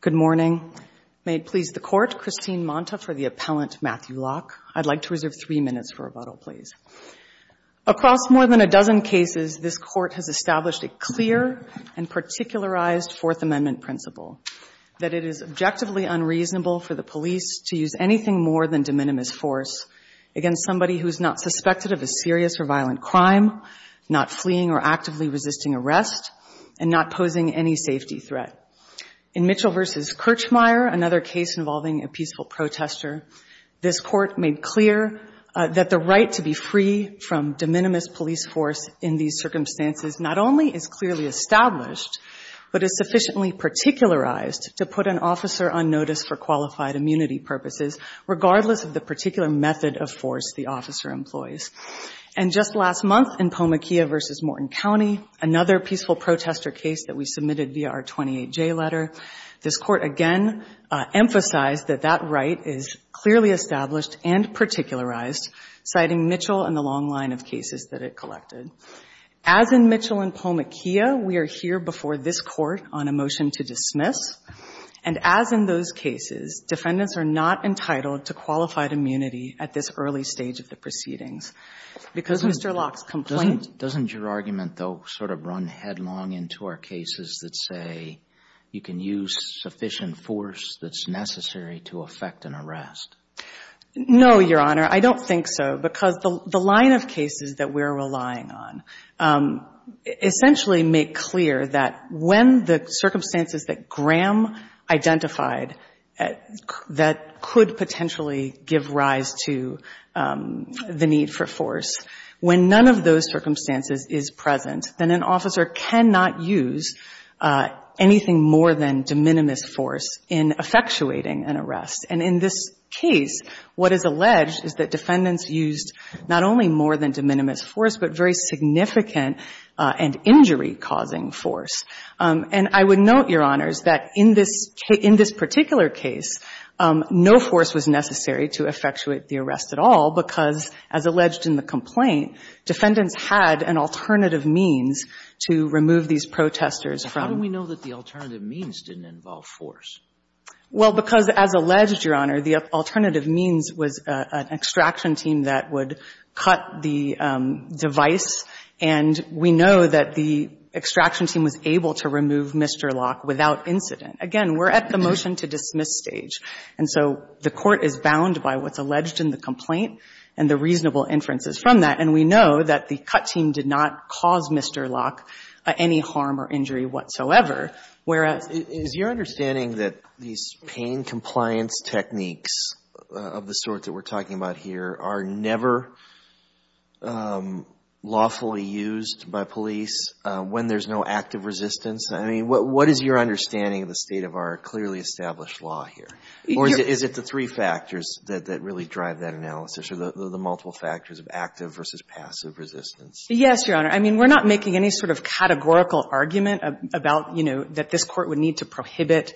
Good morning. May it please the Court, Christine Monta for the appellant, Matthew Locke. I'd like to reserve three minutes for rebuttal, please. Across more than a dozen cases, this Court has established a clear and particularized Fourth Amendment principle, that it is objectively unreasonable for the police to use anything more than de minimis force against somebody who is not suspected of a serious or violent crime, not fleeing or actively resisting arrest, and not posing any safety threat. In Mitchell v. Kirchmeier, another case involving a peaceful protester, this Court made clear that the right to be free from de minimis police force in these circumstances not only is clearly established, but is sufficiently particularized to put an officer on notice for qualified immunity purposes, regardless of the particular method of force the officer employs. And just last month in Pomakea v. Morton County, another peaceful protester case that we submitted via our 28J letter, this Court again emphasized that that right is clearly established and particularized, citing Mitchell and the long line of cases that it collected. As in Mitchell and Pomakea, we are here before this Court on a motion to dismiss. And as in those cases, defendants are not entitled to qualified immunity at this early stage of the proceedings. Because Mr. Locke's complaint ---- Doesn't your argument, though, sort of run headlong into our cases that say you can use sufficient force that's necessary to effect an arrest? No, Your Honor. I don't think so, because the line of cases that we're relying on essentially make clear that when the circumstances that Graham identified that could potentially give rise to the need for force, when none of those circumstances is present, then an officer cannot use anything more than de minimis force in effectuating an arrest. And in this case, what is alleged is that defendants used not only more than de minimis force, but very significant and injury-causing force. And I would note, Your Honors, that in this particular case, no force was necessary to effectuate the arrest at all, because as alleged in the complaint, defendants had an alternative means to remove these protesters from ---- But how do we know that the alternative means didn't involve force? Well, because as alleged, Your Honor, the alternative means was an extraction team that would cut the device, and we know that the extraction team was able to remove Mr. Locke without incident. Again, we're at the motion-to-dismiss stage. And so the Court is bound by what's alleged in the complaint and the reasonable inferences from that. And we know that the cut team did not cause Mr. Locke any harm or injury whatsoever, whereas ---- Is your understanding that these pain-compliance techniques of the sort that we're talking about here are never lawfully used by police when there's no active resistance? I mean, what is your understanding of the state of our clearly established law here? Or is it the three factors that really drive that analysis, or the multiple factors of active versus passive resistance? Yes, Your Honor. I mean, we're not making any sort of categorical argument about, you know, that this Court would need to prohibit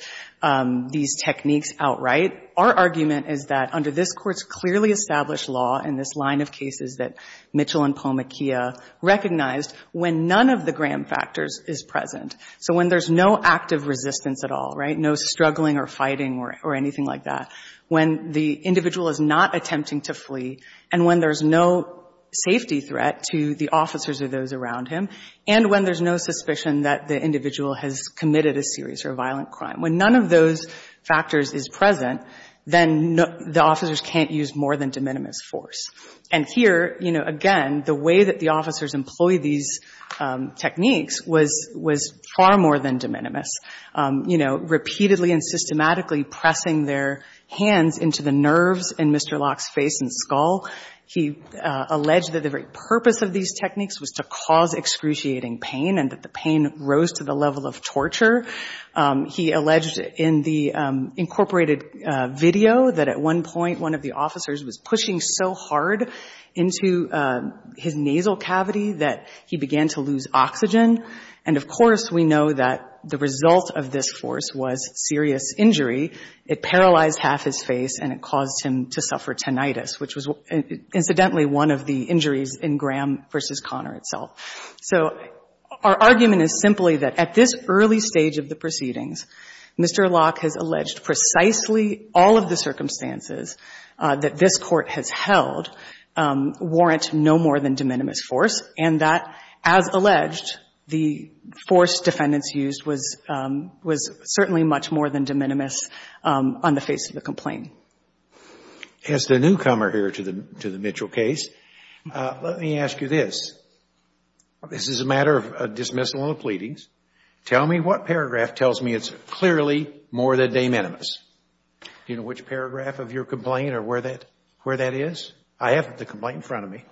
these techniques outright. Our argument is that under this Court's clearly established law and this line of cases that Mitchell and Palmaquia recognized, when none of the Graham factors is present, so when there's no active resistance at all, right, no struggling or fighting or anything like that, when the individual is not attempting to flee, and when there's no safety threat to the officers or those around him, and when there's no suspicion that the individual has committed a serious or violent crime, when none of those factors is present, then the officers can't use more than de minimis force. And here, you know, again, the way that the officers employed these techniques was far more than de minimis, you know, repeatedly and systematically pressing their hands into the nerves in Mr. Locke's face and skull. He alleged that the very purpose of these techniques was to cause excruciating pain and that the pain rose to the level of torture. He alleged in the incorporated video that at one point one of the officers was pushing so hard into his nasal cavity that he began to lose oxygen. And, of course, we know that the result of this force was serious injury. It paralyzed half his face and it caused him to suffer tinnitus, which was, incidentally, one of the injuries in Graham v. Connor itself. So our argument is simply that at this early stage of the proceedings, Mr. Locke has alleged precisely all of the circumstances that this Court has held warrant no more than de minimis force, and that, as alleged, the force defendants used was certainly much more than de minimis on the face of the complaint. As the newcomer here to the Mitchell case, let me ask you this. This is a matter of dismissal of the pleadings. Tell me what paragraph tells me it's clearly more than de minimis. Do you know which paragraph of your complaint or where that is? I have the complaint in front of me.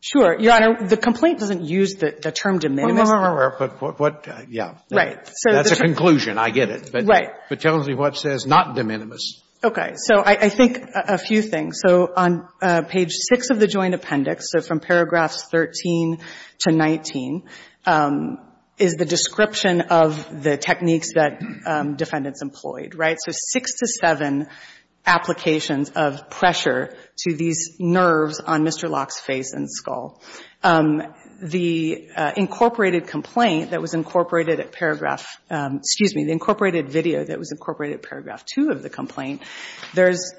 Sure. Your Honor, the complaint doesn't use the term de minimis. No, no, no. Yeah. Right. That's a conclusion. I get it. Right. But tell me what says not de minimis. Okay. So I think a few things. So on page 6 of the joint appendix, so from paragraphs 13 to 19, is the description of the techniques that defendants employed. Right? So 6 to 7 applications of pressure to these nerves on Mr. Locke's face and skull. The incorporated complaint that was incorporated at paragraph, excuse me, the incorporated video that was incorporated at paragraph 2 of the complaint, there's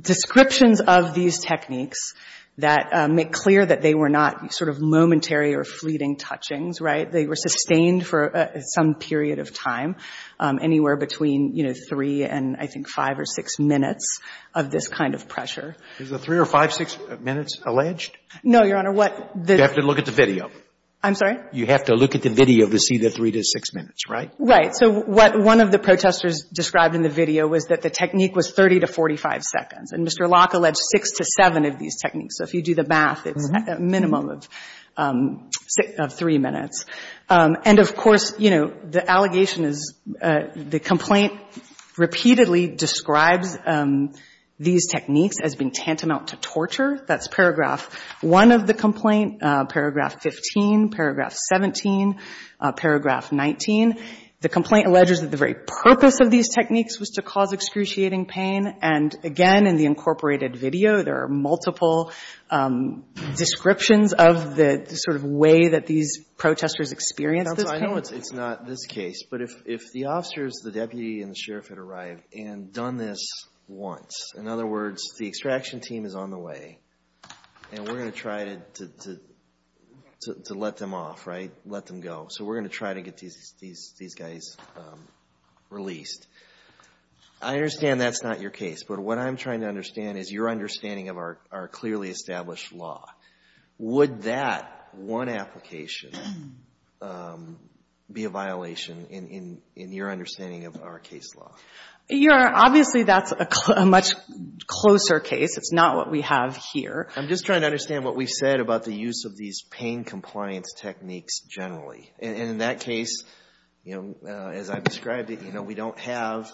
descriptions of these techniques that make clear that they were not sort of momentary or fleeting touchings. Right? They were sustained for some period of time, anywhere between, you know, 3 and I think 5 or 6 minutes of this kind of pressure. Is the 3 or 5, 6 minutes alleged? No, Your Honor. You have to look at the video. I'm sorry? You have to look at the video to see the 3 to 6 minutes, right? Right. So what one of the protesters described in the video was that the technique was 30 to 45 seconds. And Mr. Locke alleged 6 to 7 of these techniques. So if you do the math, it's a minimum of 3 minutes. And of course, you know, the allegation is the complaint repeatedly describes these techniques as being tantamount to torture. That's paragraph 1 of the complaint, paragraph 15, paragraph 17, paragraph 19. The complaint alleges that the very purpose of these techniques was to cause excruciating pain. And again, in the incorporated video, there are multiple descriptions of the sort of way that these protesters experienced this pain. I know it's not this case, but if the officers, the deputy and the sheriff had arrived and done this once, in other words, the extraction team is on the way and we're going to try to let them off, right? Let them go. So we're going to try to get these guys released. I understand that's not your case, but what I'm trying to understand is your understanding of our clearly established law. Would that one application be a violation in your understanding of our case law? Obviously, that's a much closer case. It's not what we have here. I'm just trying to understand what we've said about the use of these pain compliance techniques generally. And in that case, as I've described it, we don't have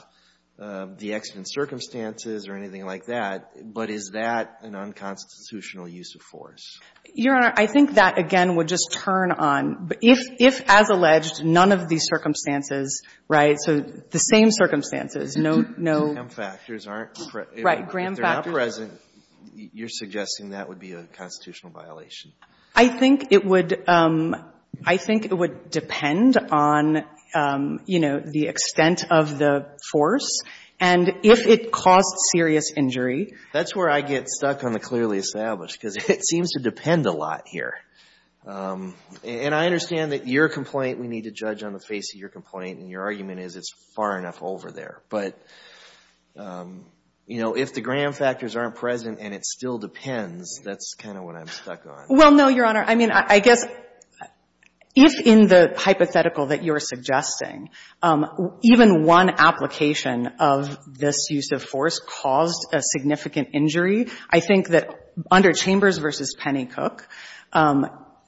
the accident circumstances or anything like that, but is that an unconstitutional use of force? Your Honor, I think that, again, would just turn on. If, as alleged, none of these circumstances, right, so the same circumstances, no, no. Gram factors aren't present. Right. Gram factors aren't present. If they're not present, you're suggesting that would be a constitutional violation. I think it would depend on, you know, the extent of the force. And if it caused serious injury. That's where I get stuck on the clearly established, because it seems to depend a lot here. And I understand that your complaint, we need to judge on the face of your complaint, and your argument is it's far enough over there. But, you know, if the gram factors aren't present and it still depends, that's kind of what I'm stuck on. Well, no, Your Honor. I mean, I guess if in the hypothetical that you're suggesting, even one application of this use of force caused a significant injury, I think that under Chambers v. Pennycook,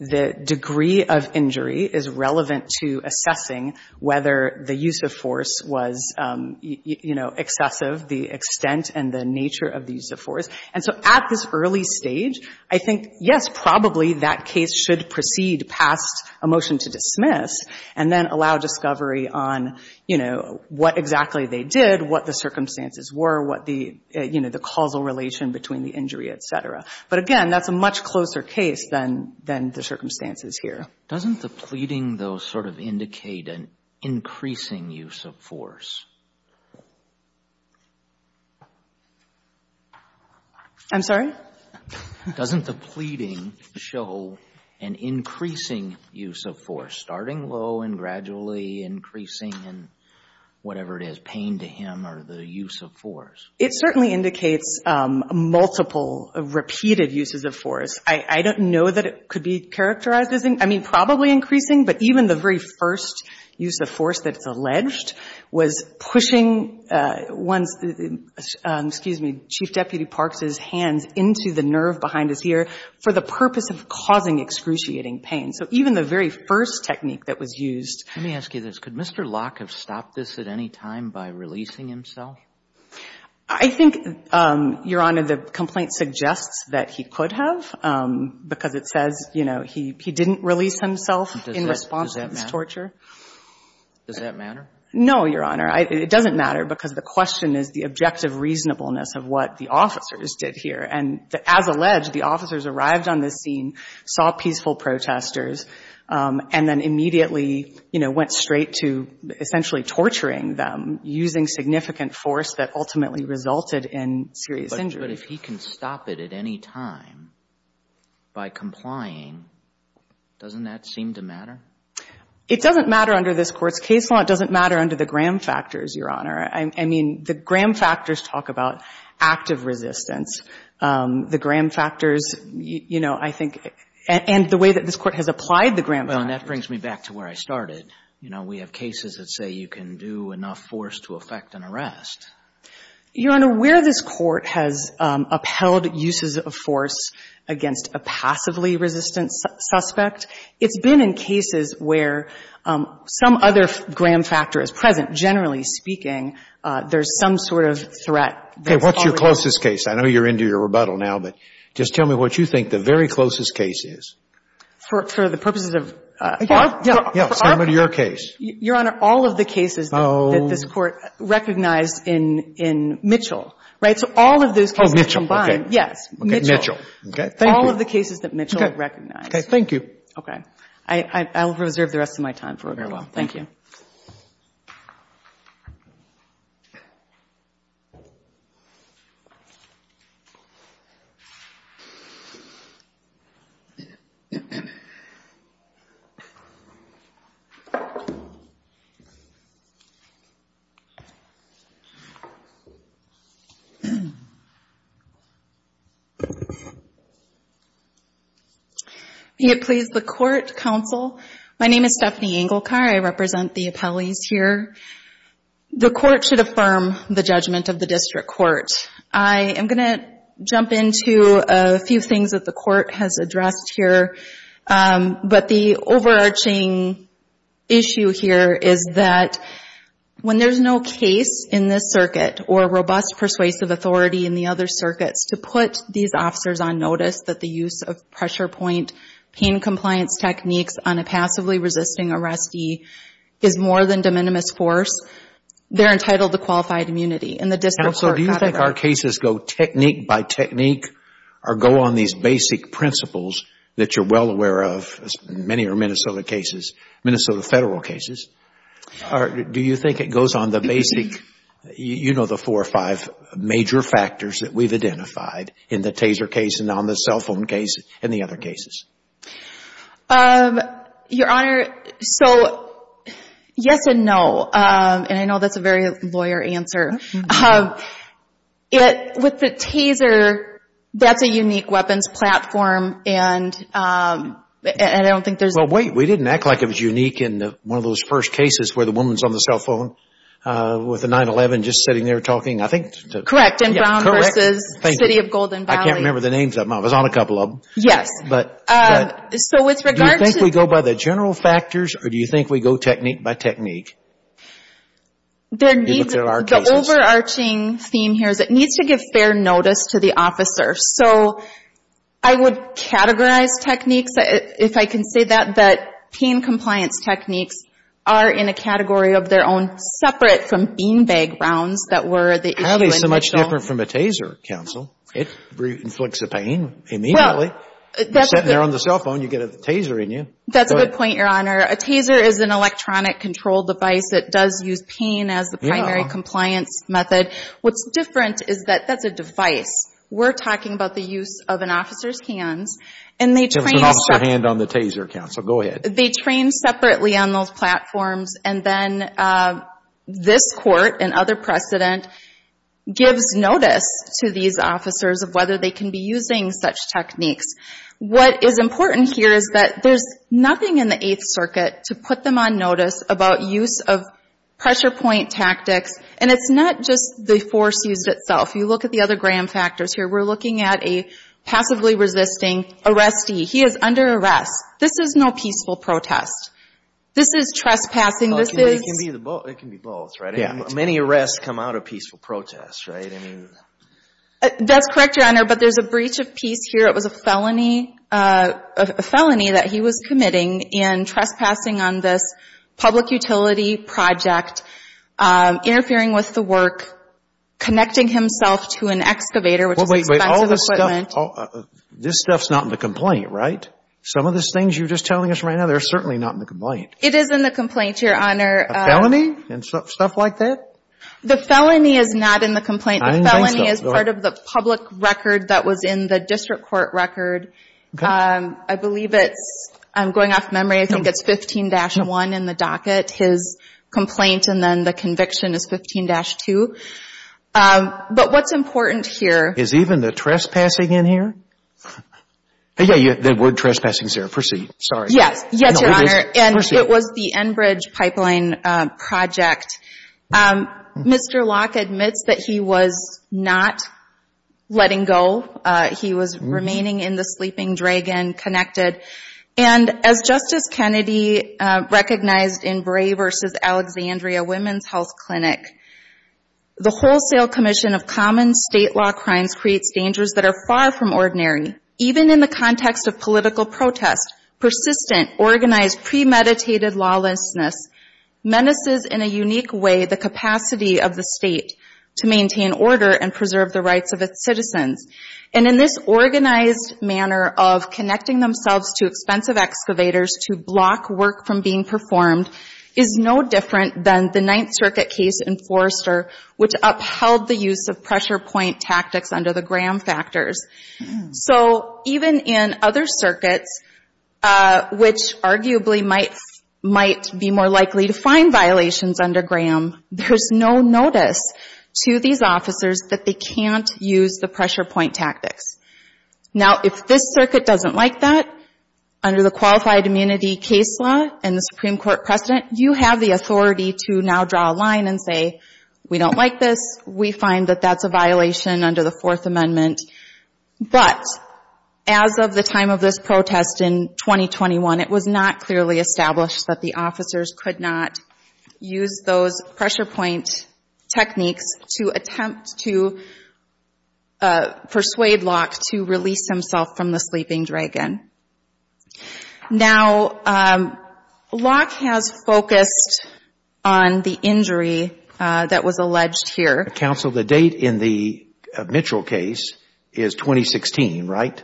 the degree of injury is relevant to assessing whether the use of force was, you know, excessive, the extent and the nature of the use of force. And so at this early stage, I think, yes, probably that case should proceed past a motion to dismiss and then allow discovery on, you know, what exactly they did, what the circumstances were, what the, you know, the causal relation between the injury, et cetera. But, again, that's a much closer case than the circumstances here. Doesn't the pleading, though, sort of indicate an increasing use of force? I'm sorry? Doesn't the pleading show an increasing use of force, starting low and gradually increasing in whatever it is, pain to him or the use of force? It certainly indicates multiple repeated uses of force. I don't know that it could be characterized as, I mean, probably increasing, but even the very first use of force that's alleged was pushing one's, excuse me, Chief Deputy Parks' hands into the nerve behind his ear for the purpose of causing excruciating pain. So even the very first technique that was used. Let me ask you this. Could Mr. Locke have stopped this at any time by releasing himself? I think, Your Honor, the complaint suggests that he could have, because it says, you know, he didn't release himself in response to this torture. Does that matter? Does that matter? No, Your Honor. It doesn't matter, because the question is the objective reasonableness of what the officers did here. And as alleged, the officers arrived on the scene, saw peaceful protesters, and then immediately, you know, went straight to essentially torturing them using significant force that ultimately resulted in serious injury. But if he can stop it at any time by complying, doesn't that seem to matter? It doesn't matter under this Court's case law. It doesn't matter under the Graham factors, Your Honor. I mean, the Graham factors talk about active resistance. The Graham factors, you know, I think, and the way that this Court has applied the Graham factors. Well, and that brings me back to where I started. You know, we have cases that say you can do enough force to affect an arrest. Your Honor, where this Court has upheld uses of force against a passively resistant suspect, it's been in cases where some other Graham factor is present. Generally speaking, there's some sort of threat. Okay. What's your closest case? I know you're into your rebuttal now, but just tell me what you think the very closest case is. For the purposes of our court. Yeah. Yeah. Send me to your case. Your Honor, all of the cases that this Court recognized in Mitchell. Right? So all of those cases combined. Okay. Yes. Okay. Mitchell. Okay. Thank you. All of the cases that Mitchell recognized. Okay. Thank you. Okay. I'll reserve the rest of my time for rebuttal. Very well. Thank you. Thank you. May it please the Court, Counsel. My name is Stephanie Engelkar. I represent the appellees here. The Court should affirm the judgment of the District Court. I am going to jump into a few things that the Court has addressed here. But the overarching issue here is that when there's no case in this circuit or robust persuasive authority in the other circuits to put these officers on notice that the use of pressure point pain compliance techniques on a community is more than de minimis force, they're entitled to qualified immunity in the District Court. Counsel, do you think our cases go technique by technique or go on these basic principles that you're well aware of? Many are Minnesota cases, Minnesota federal cases. Do you think it goes on the basic, you know, the four or five major factors that we've identified in the Taser case and on the cell phone case and the other cases? Your Honor, so yes and no. And I know that's a very lawyer answer. With the Taser, that's a unique weapons platform and I don't think there's Well, wait. We didn't act like it was unique in one of those first cases where the woman's on the cell phone with a 9-11 just sitting there talking. I think. Correct. And Brown versus City of Golden Valley. I can't remember the names. I was on a couple of them. Yes. But. So with regard to. Do you think we go by the general factors or do you think we go technique by technique? The overarching theme here is it needs to give fair notice to the officer. So I would categorize techniques, if I can say that, that pain compliance techniques are in a category of their own separate from bean bag rounds that were the issue in the cell. How are they so much different from a Taser, Counsel? It inflicts a pain immediately. You're sitting there on the cell phone, you get a Taser in you. That's a good point, Your Honor. A Taser is an electronic control device that does use pain as the primary compliance method. What's different is that that's a device. We're talking about the use of an officer's hands and they train. There was an officer hand on the Taser, Counsel. Go ahead. They train separately on those platforms and then this court and other precedent gives notice to these officers of whether they can be using such techniques. What is important here is that there's nothing in the Eighth Circuit to put them on notice about use of pressure point tactics and it's not just the force used itself. You look at the other gram factors here. We're looking at a passively resisting arrestee. He is under arrest. This is no peaceful protest. This is trespassing. It can be both, right? Many arrests come out of peaceful protests, right? That's correct, Your Honor, but there's a breach of peace here. It was a felony that he was committing in trespassing on this public utility project, interfering with the work, connecting himself to an excavator, which is expensive equipment. This stuff's not in the complaint, right? Some of the things you're just telling us right now, they're certainly not in the complaint. It is in the complaint, Your Honor. A felony and stuff like that? The felony is not in the complaint. The felony is part of the public record that was in the district court record. I believe it's, I'm going off memory, I think it's 15-1 in the docket. His complaint and then the conviction is 15-2, but what's important here Is even the trespassing in here? Yeah, there were trespassings here. Proceed. Yes, Your Honor, and it was the Enbridge pipeline project. Mr. Locke admits that he was not letting go. He was remaining in the sleeping dragon, connected, and as Justice Kennedy recognized in Bray v. Alexandria Women's Health Clinic, the wholesale commission of common state law crimes creates dangers that are far from ordinary, even in the context of political protest, persistent, organized, premeditated lawlessness menaces in a unique way the capacity of the state to maintain order and preserve the rights of its citizens. And in this organized manner of connecting themselves to expensive excavators to block work from being performed is no different than the Ninth Circuit case in Forrester, which upheld the use of pressure point tactics under the Graham factors. So even in other circuits, which arguably might be more likely to find violations under Graham, there's no notice to these officers that they can't use the pressure point tactics. Now, if this circuit doesn't like that, under the Qualified Immunity Case Law and the Supreme Court precedent, you have the authority to now draw a line and say, we don't like this, we find that that's a violation under the Fourth Amendment. But as of the time of this protest in 2021, it was not clearly established that the officers could not use those pressure point techniques to attempt to persuade Locke to release himself from the sleeping dragon. Now, Locke has focused on the injury that was alleged here. Counsel, the date in the Mitchell case is 2016, right?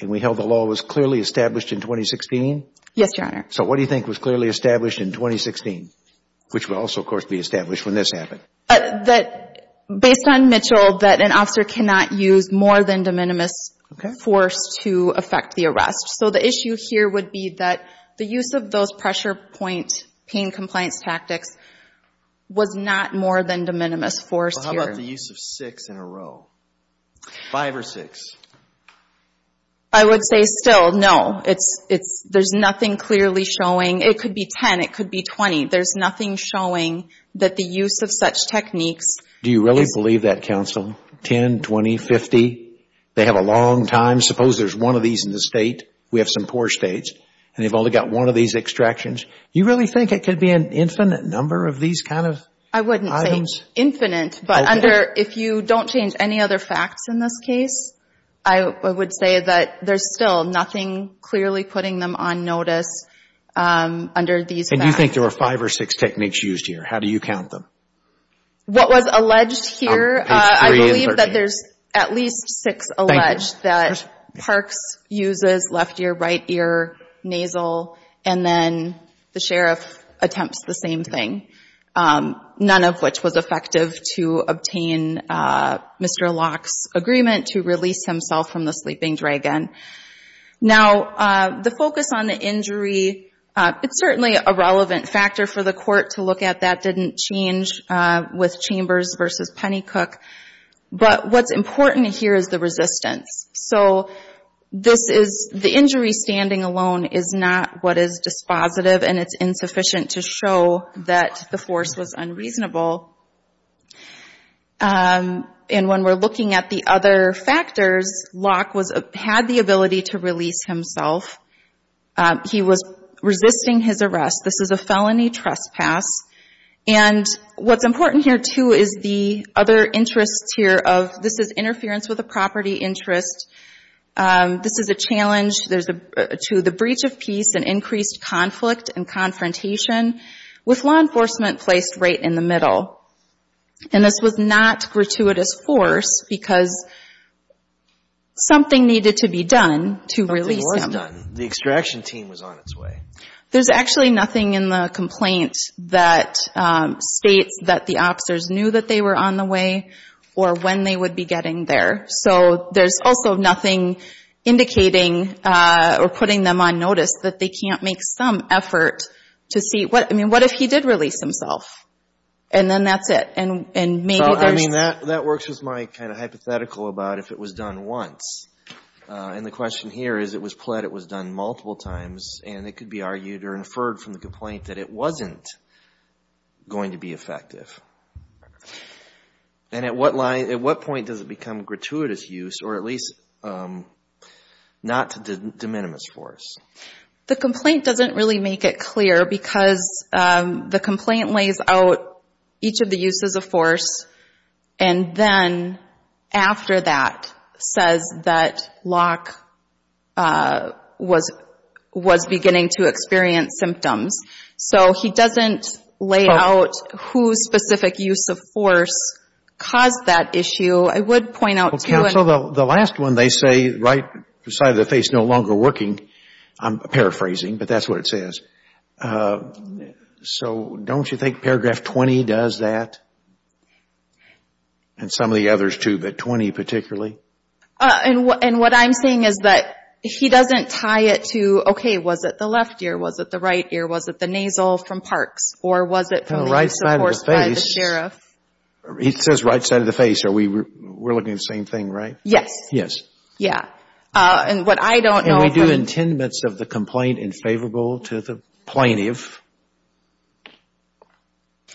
And we held the law was clearly established in 2016? Yes, Your Honor. So what do you think was clearly established in 2016? Which will also, of course, be established when this happened. Based on Mitchell, that an officer cannot use more than de minimis force to affect the arrest. So the issue here would be that the use of those pressure point pain compliance tactics was not more than de minimis force here. Well, how about the use of six in a row? Five or six? I would say still, no. There's nothing clearly showing. It could be 10, it could be 20. There's nothing showing that the use of such techniques. Do you really believe that, Counsel? 10, 20, 50? They have a long time. Suppose there's one of these in the state, we have some poor states, and they've only got one of these extractions. Do you really think it could be an infinite number of these kind of items? I wouldn't say infinite, but if you don't change any other facts in this case, I would say that there's still nothing clearly putting them on notice under these facts. And do you think there were five or six techniques used here? How do you count them? What was alleged here, I believe that there's at least six alleged that Parkes uses left ear, right ear, nasal, and then the sheriff attempts the same thing, none of which was effective to obtain Mr. Locke's agreement to release himself from the sleeping dragon. Now, the focus on the injury, it's certainly a relevant factor for the court to look at. That didn't change with Chambers versus Pennycook. But what's important here is the resistance. So the injury standing alone is not what is dispositive, and it's insufficient to show that the force was unreasonable. And when we're looking at the other factors, Locke had the ability to release himself. He was resisting his arrest. This is a felony trespass. And what's important here, too, is the other interests here of this is the property interest. This is a challenge to the breach of peace and increased conflict and confrontation with law enforcement placed right in the middle. And this was not gratuitous force because something needed to be done to release him. Something was done. The extraction team was on its way. There's actually nothing in the complaint that states that the officers knew that they were on the way or when they would be getting there. So there's also nothing indicating or putting them on notice that they can't make some effort to see. I mean, what if he did release himself? And then that's it. And maybe they're just... Well, I mean, that works with my kind of hypothetical about if it was done once. And the question here is it was pled, it was done multiple times, and it could be argued or inferred from the complaint that it wasn't going to be effective. And at what point does it become gratuitous use or at least not de minimis force? The complaint doesn't really make it clear because the complaint lays out each of the uses of force and then after that says that Locke was beginning to experience symptoms. So he doesn't lay out whose specific use of force caused that issue. I would point out too... Well, counsel, the last one they say right beside the face no longer working. I'm paraphrasing, but that's what it says. So don't you think paragraph 20 does that and some of the others too, but 20 particularly? And what I'm saying is that he doesn't tie it to, okay, was it the left ear? Was it the right ear? Was it the nasal from Parks? Or was it from the use of force by the sheriff? He says right side of the face. We're looking at the same thing, right? Yes. Yes. Yeah. And what I don't know... And we do intendments of the complaint in favorable to the plaintiff.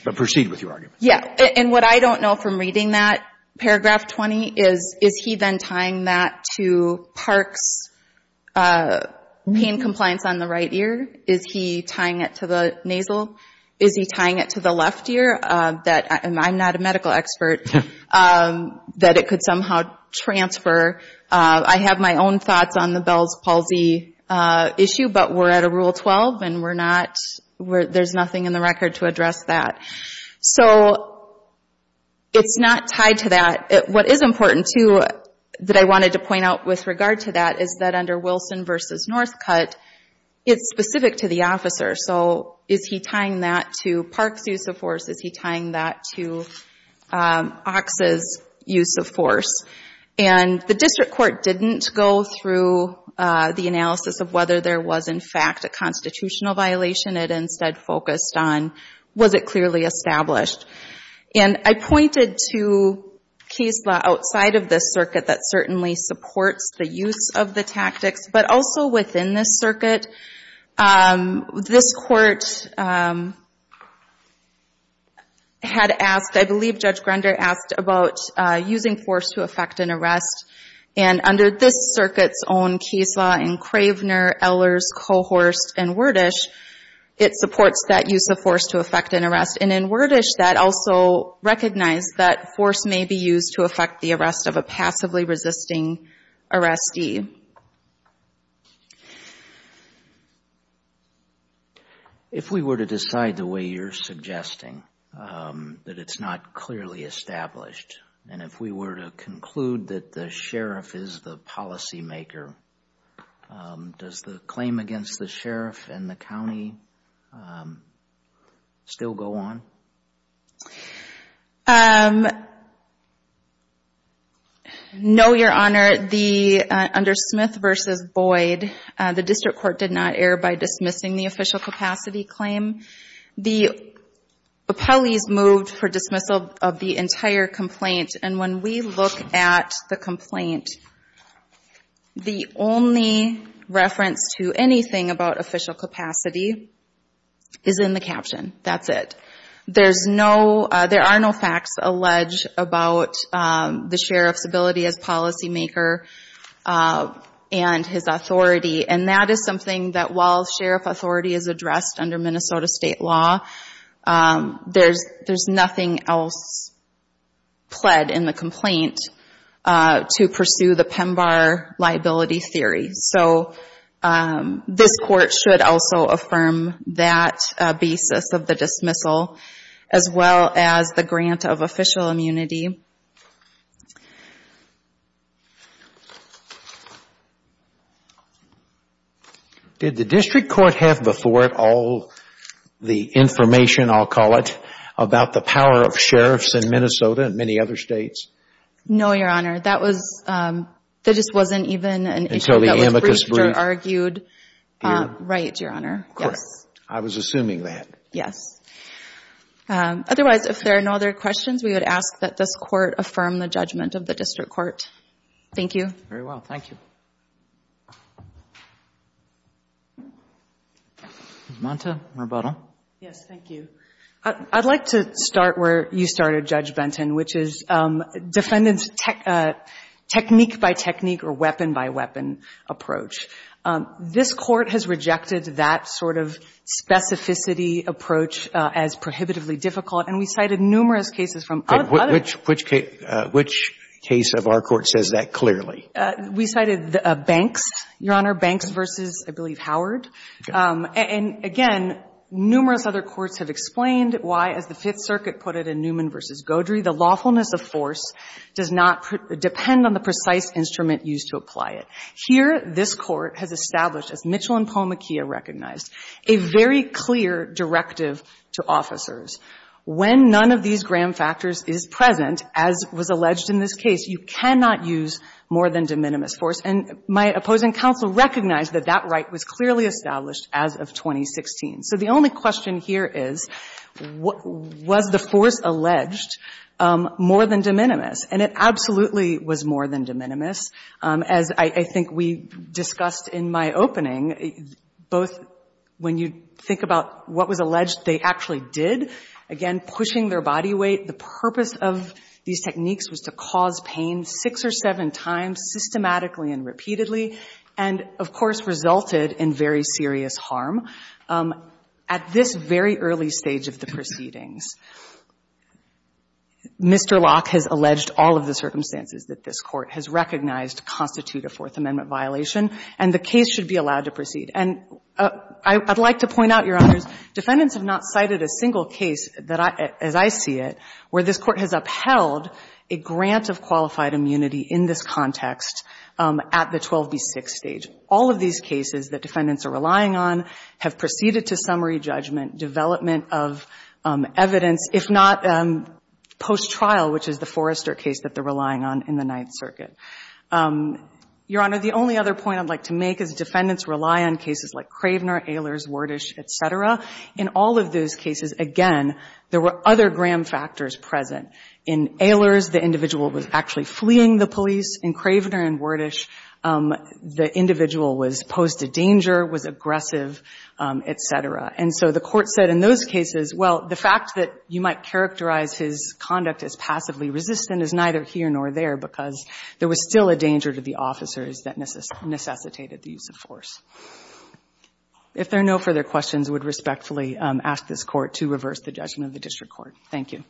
But proceed with your argument. Yeah. And what I don't know from reading that paragraph 20 is, is he then tying that to Parks' pain compliance on the right ear? Is he tying it to the nasal? Is he tying it to the left ear? I'm not a medical expert that it could somehow transfer. I have my own thoughts on the Bell's palsy issue, but we're at a Rule 12 and there's nothing in the record to address that. So it's not tied to that. What is important too that I wanted to point out with regard to that is that under Wilson v. Northcutt, it's specific to the officer. So is he tying that to Parks' use of force? Is he tying that to Ox's use of force? And the district court didn't go through the analysis of whether there was, in fact, a constitutional violation. It instead focused on was it clearly established? And I pointed to case law outside of this circuit that certainly supports the use of the tactics, but also within this circuit. This court had asked, I believe Judge Grunder asked, about using force to effect an arrest. And under this circuit's own case law in Cravener, Ellers, Cohorst, and Wordish, it supports that use of force to effect an arrest. And in Wordish that also recognized that force may be used to effect the arrest of a passively resisting arrestee. If we were to decide the way you're suggesting that it's not clearly established, and if we were to conclude that the sheriff is the policymaker, does the claim against the sheriff and the county still go on? No, Your Honor. Under Smith v. Boyd, the district court did not err by dismissing the official capacity claim. The appellees moved for dismissal of the entire complaint. And when we look at the complaint, the only reference to anything about official capacity is in the caption. That's it. There's no, there are no facts alleged about the sheriff's ability as policymaker and his authority. And that is something that while sheriff authority is addressed under Minnesota state law, there's nothing else pled in the complaint to pursue the PEMBAR liability theory. So this court should also affirm that basis of the dismissal as well as the grant of official immunity. Did the district court have before it all the information, I'll call it, about the power of sheriffs in Minnesota and many other states? No, Your Honor. That was, that just wasn't even an issue that was briefed or argued. Right, Your Honor. Correct. Yes. I was assuming that. Yes. Otherwise, if there are no other questions, we would ask that this court affirm the judgment of the district court. Thank you. Very well. Thank you. Ms. Monta, rebuttal. Yes, thank you. I'd like to start where you started, Judge Benton, which is defendant's technique-by-technique or weapon-by-weapon approach. This court has rejected that sort of specificity approach as prohibitively difficult, and we cited numerous cases from other courts. Which case of our court says that clearly? We cited Banks, Your Honor, Banks v. I believe Howard. And again, numerous other courts have explained why, as the Fifth Circuit put it in Newman v. Godry, the lawfulness of force does not depend on the precise instrument used to apply it. Here, this court has established, as Mitchell and Palmaquia recognized, a very clear directive to officers. When none of these gram factors is present, as was alleged in this case, you cannot use more than de minimis force. And my opposing counsel recognized that that right was clearly established as of 2016. So the only question here is, was the force alleged more than de minimis? And it absolutely was more than de minimis, as I think we discussed in my opening. Both when you think about what was alleged, they actually did. Again, pushing their body weight. The purpose of these techniques was to cause pain six or seven times, systematically and repeatedly, and, of course, resulted in very serious harm. At this very early stage of the proceedings, Mr. Locke has alleged all of the circumstances that this Court has recognized constitute a Fourth Amendment violation, and the case should be allowed to proceed. And I'd like to point out, Your Honors, defendants have not cited a single case, as I see it, where this Court has upheld a grant of qualified immunity in this context at the 12B6 stage. All of these cases that defendants are relying on have proceeded to summary judgment, development of evidence, if not post-trial, which is the Forrester case that they're relying on in the Ninth Circuit. Your Honor, the only other point I'd like to make is defendants rely on cases like Cravener, Ehlers, Wordish, et cetera. In all of those cases, again, there were other gram factors present. In Ehlers, the individual was actually fleeing the police. In Cravener and Wordish, the individual was posed a danger, was aggressive, et cetera. And so the Court said in those cases, well, the fact that you might characterize his conduct as passively resistant is neither here nor there because there was still a danger to the officers that necessitated the use of force. If there are no further questions, I would respectfully ask this Court to reverse the judgment of the District Court. Thank you.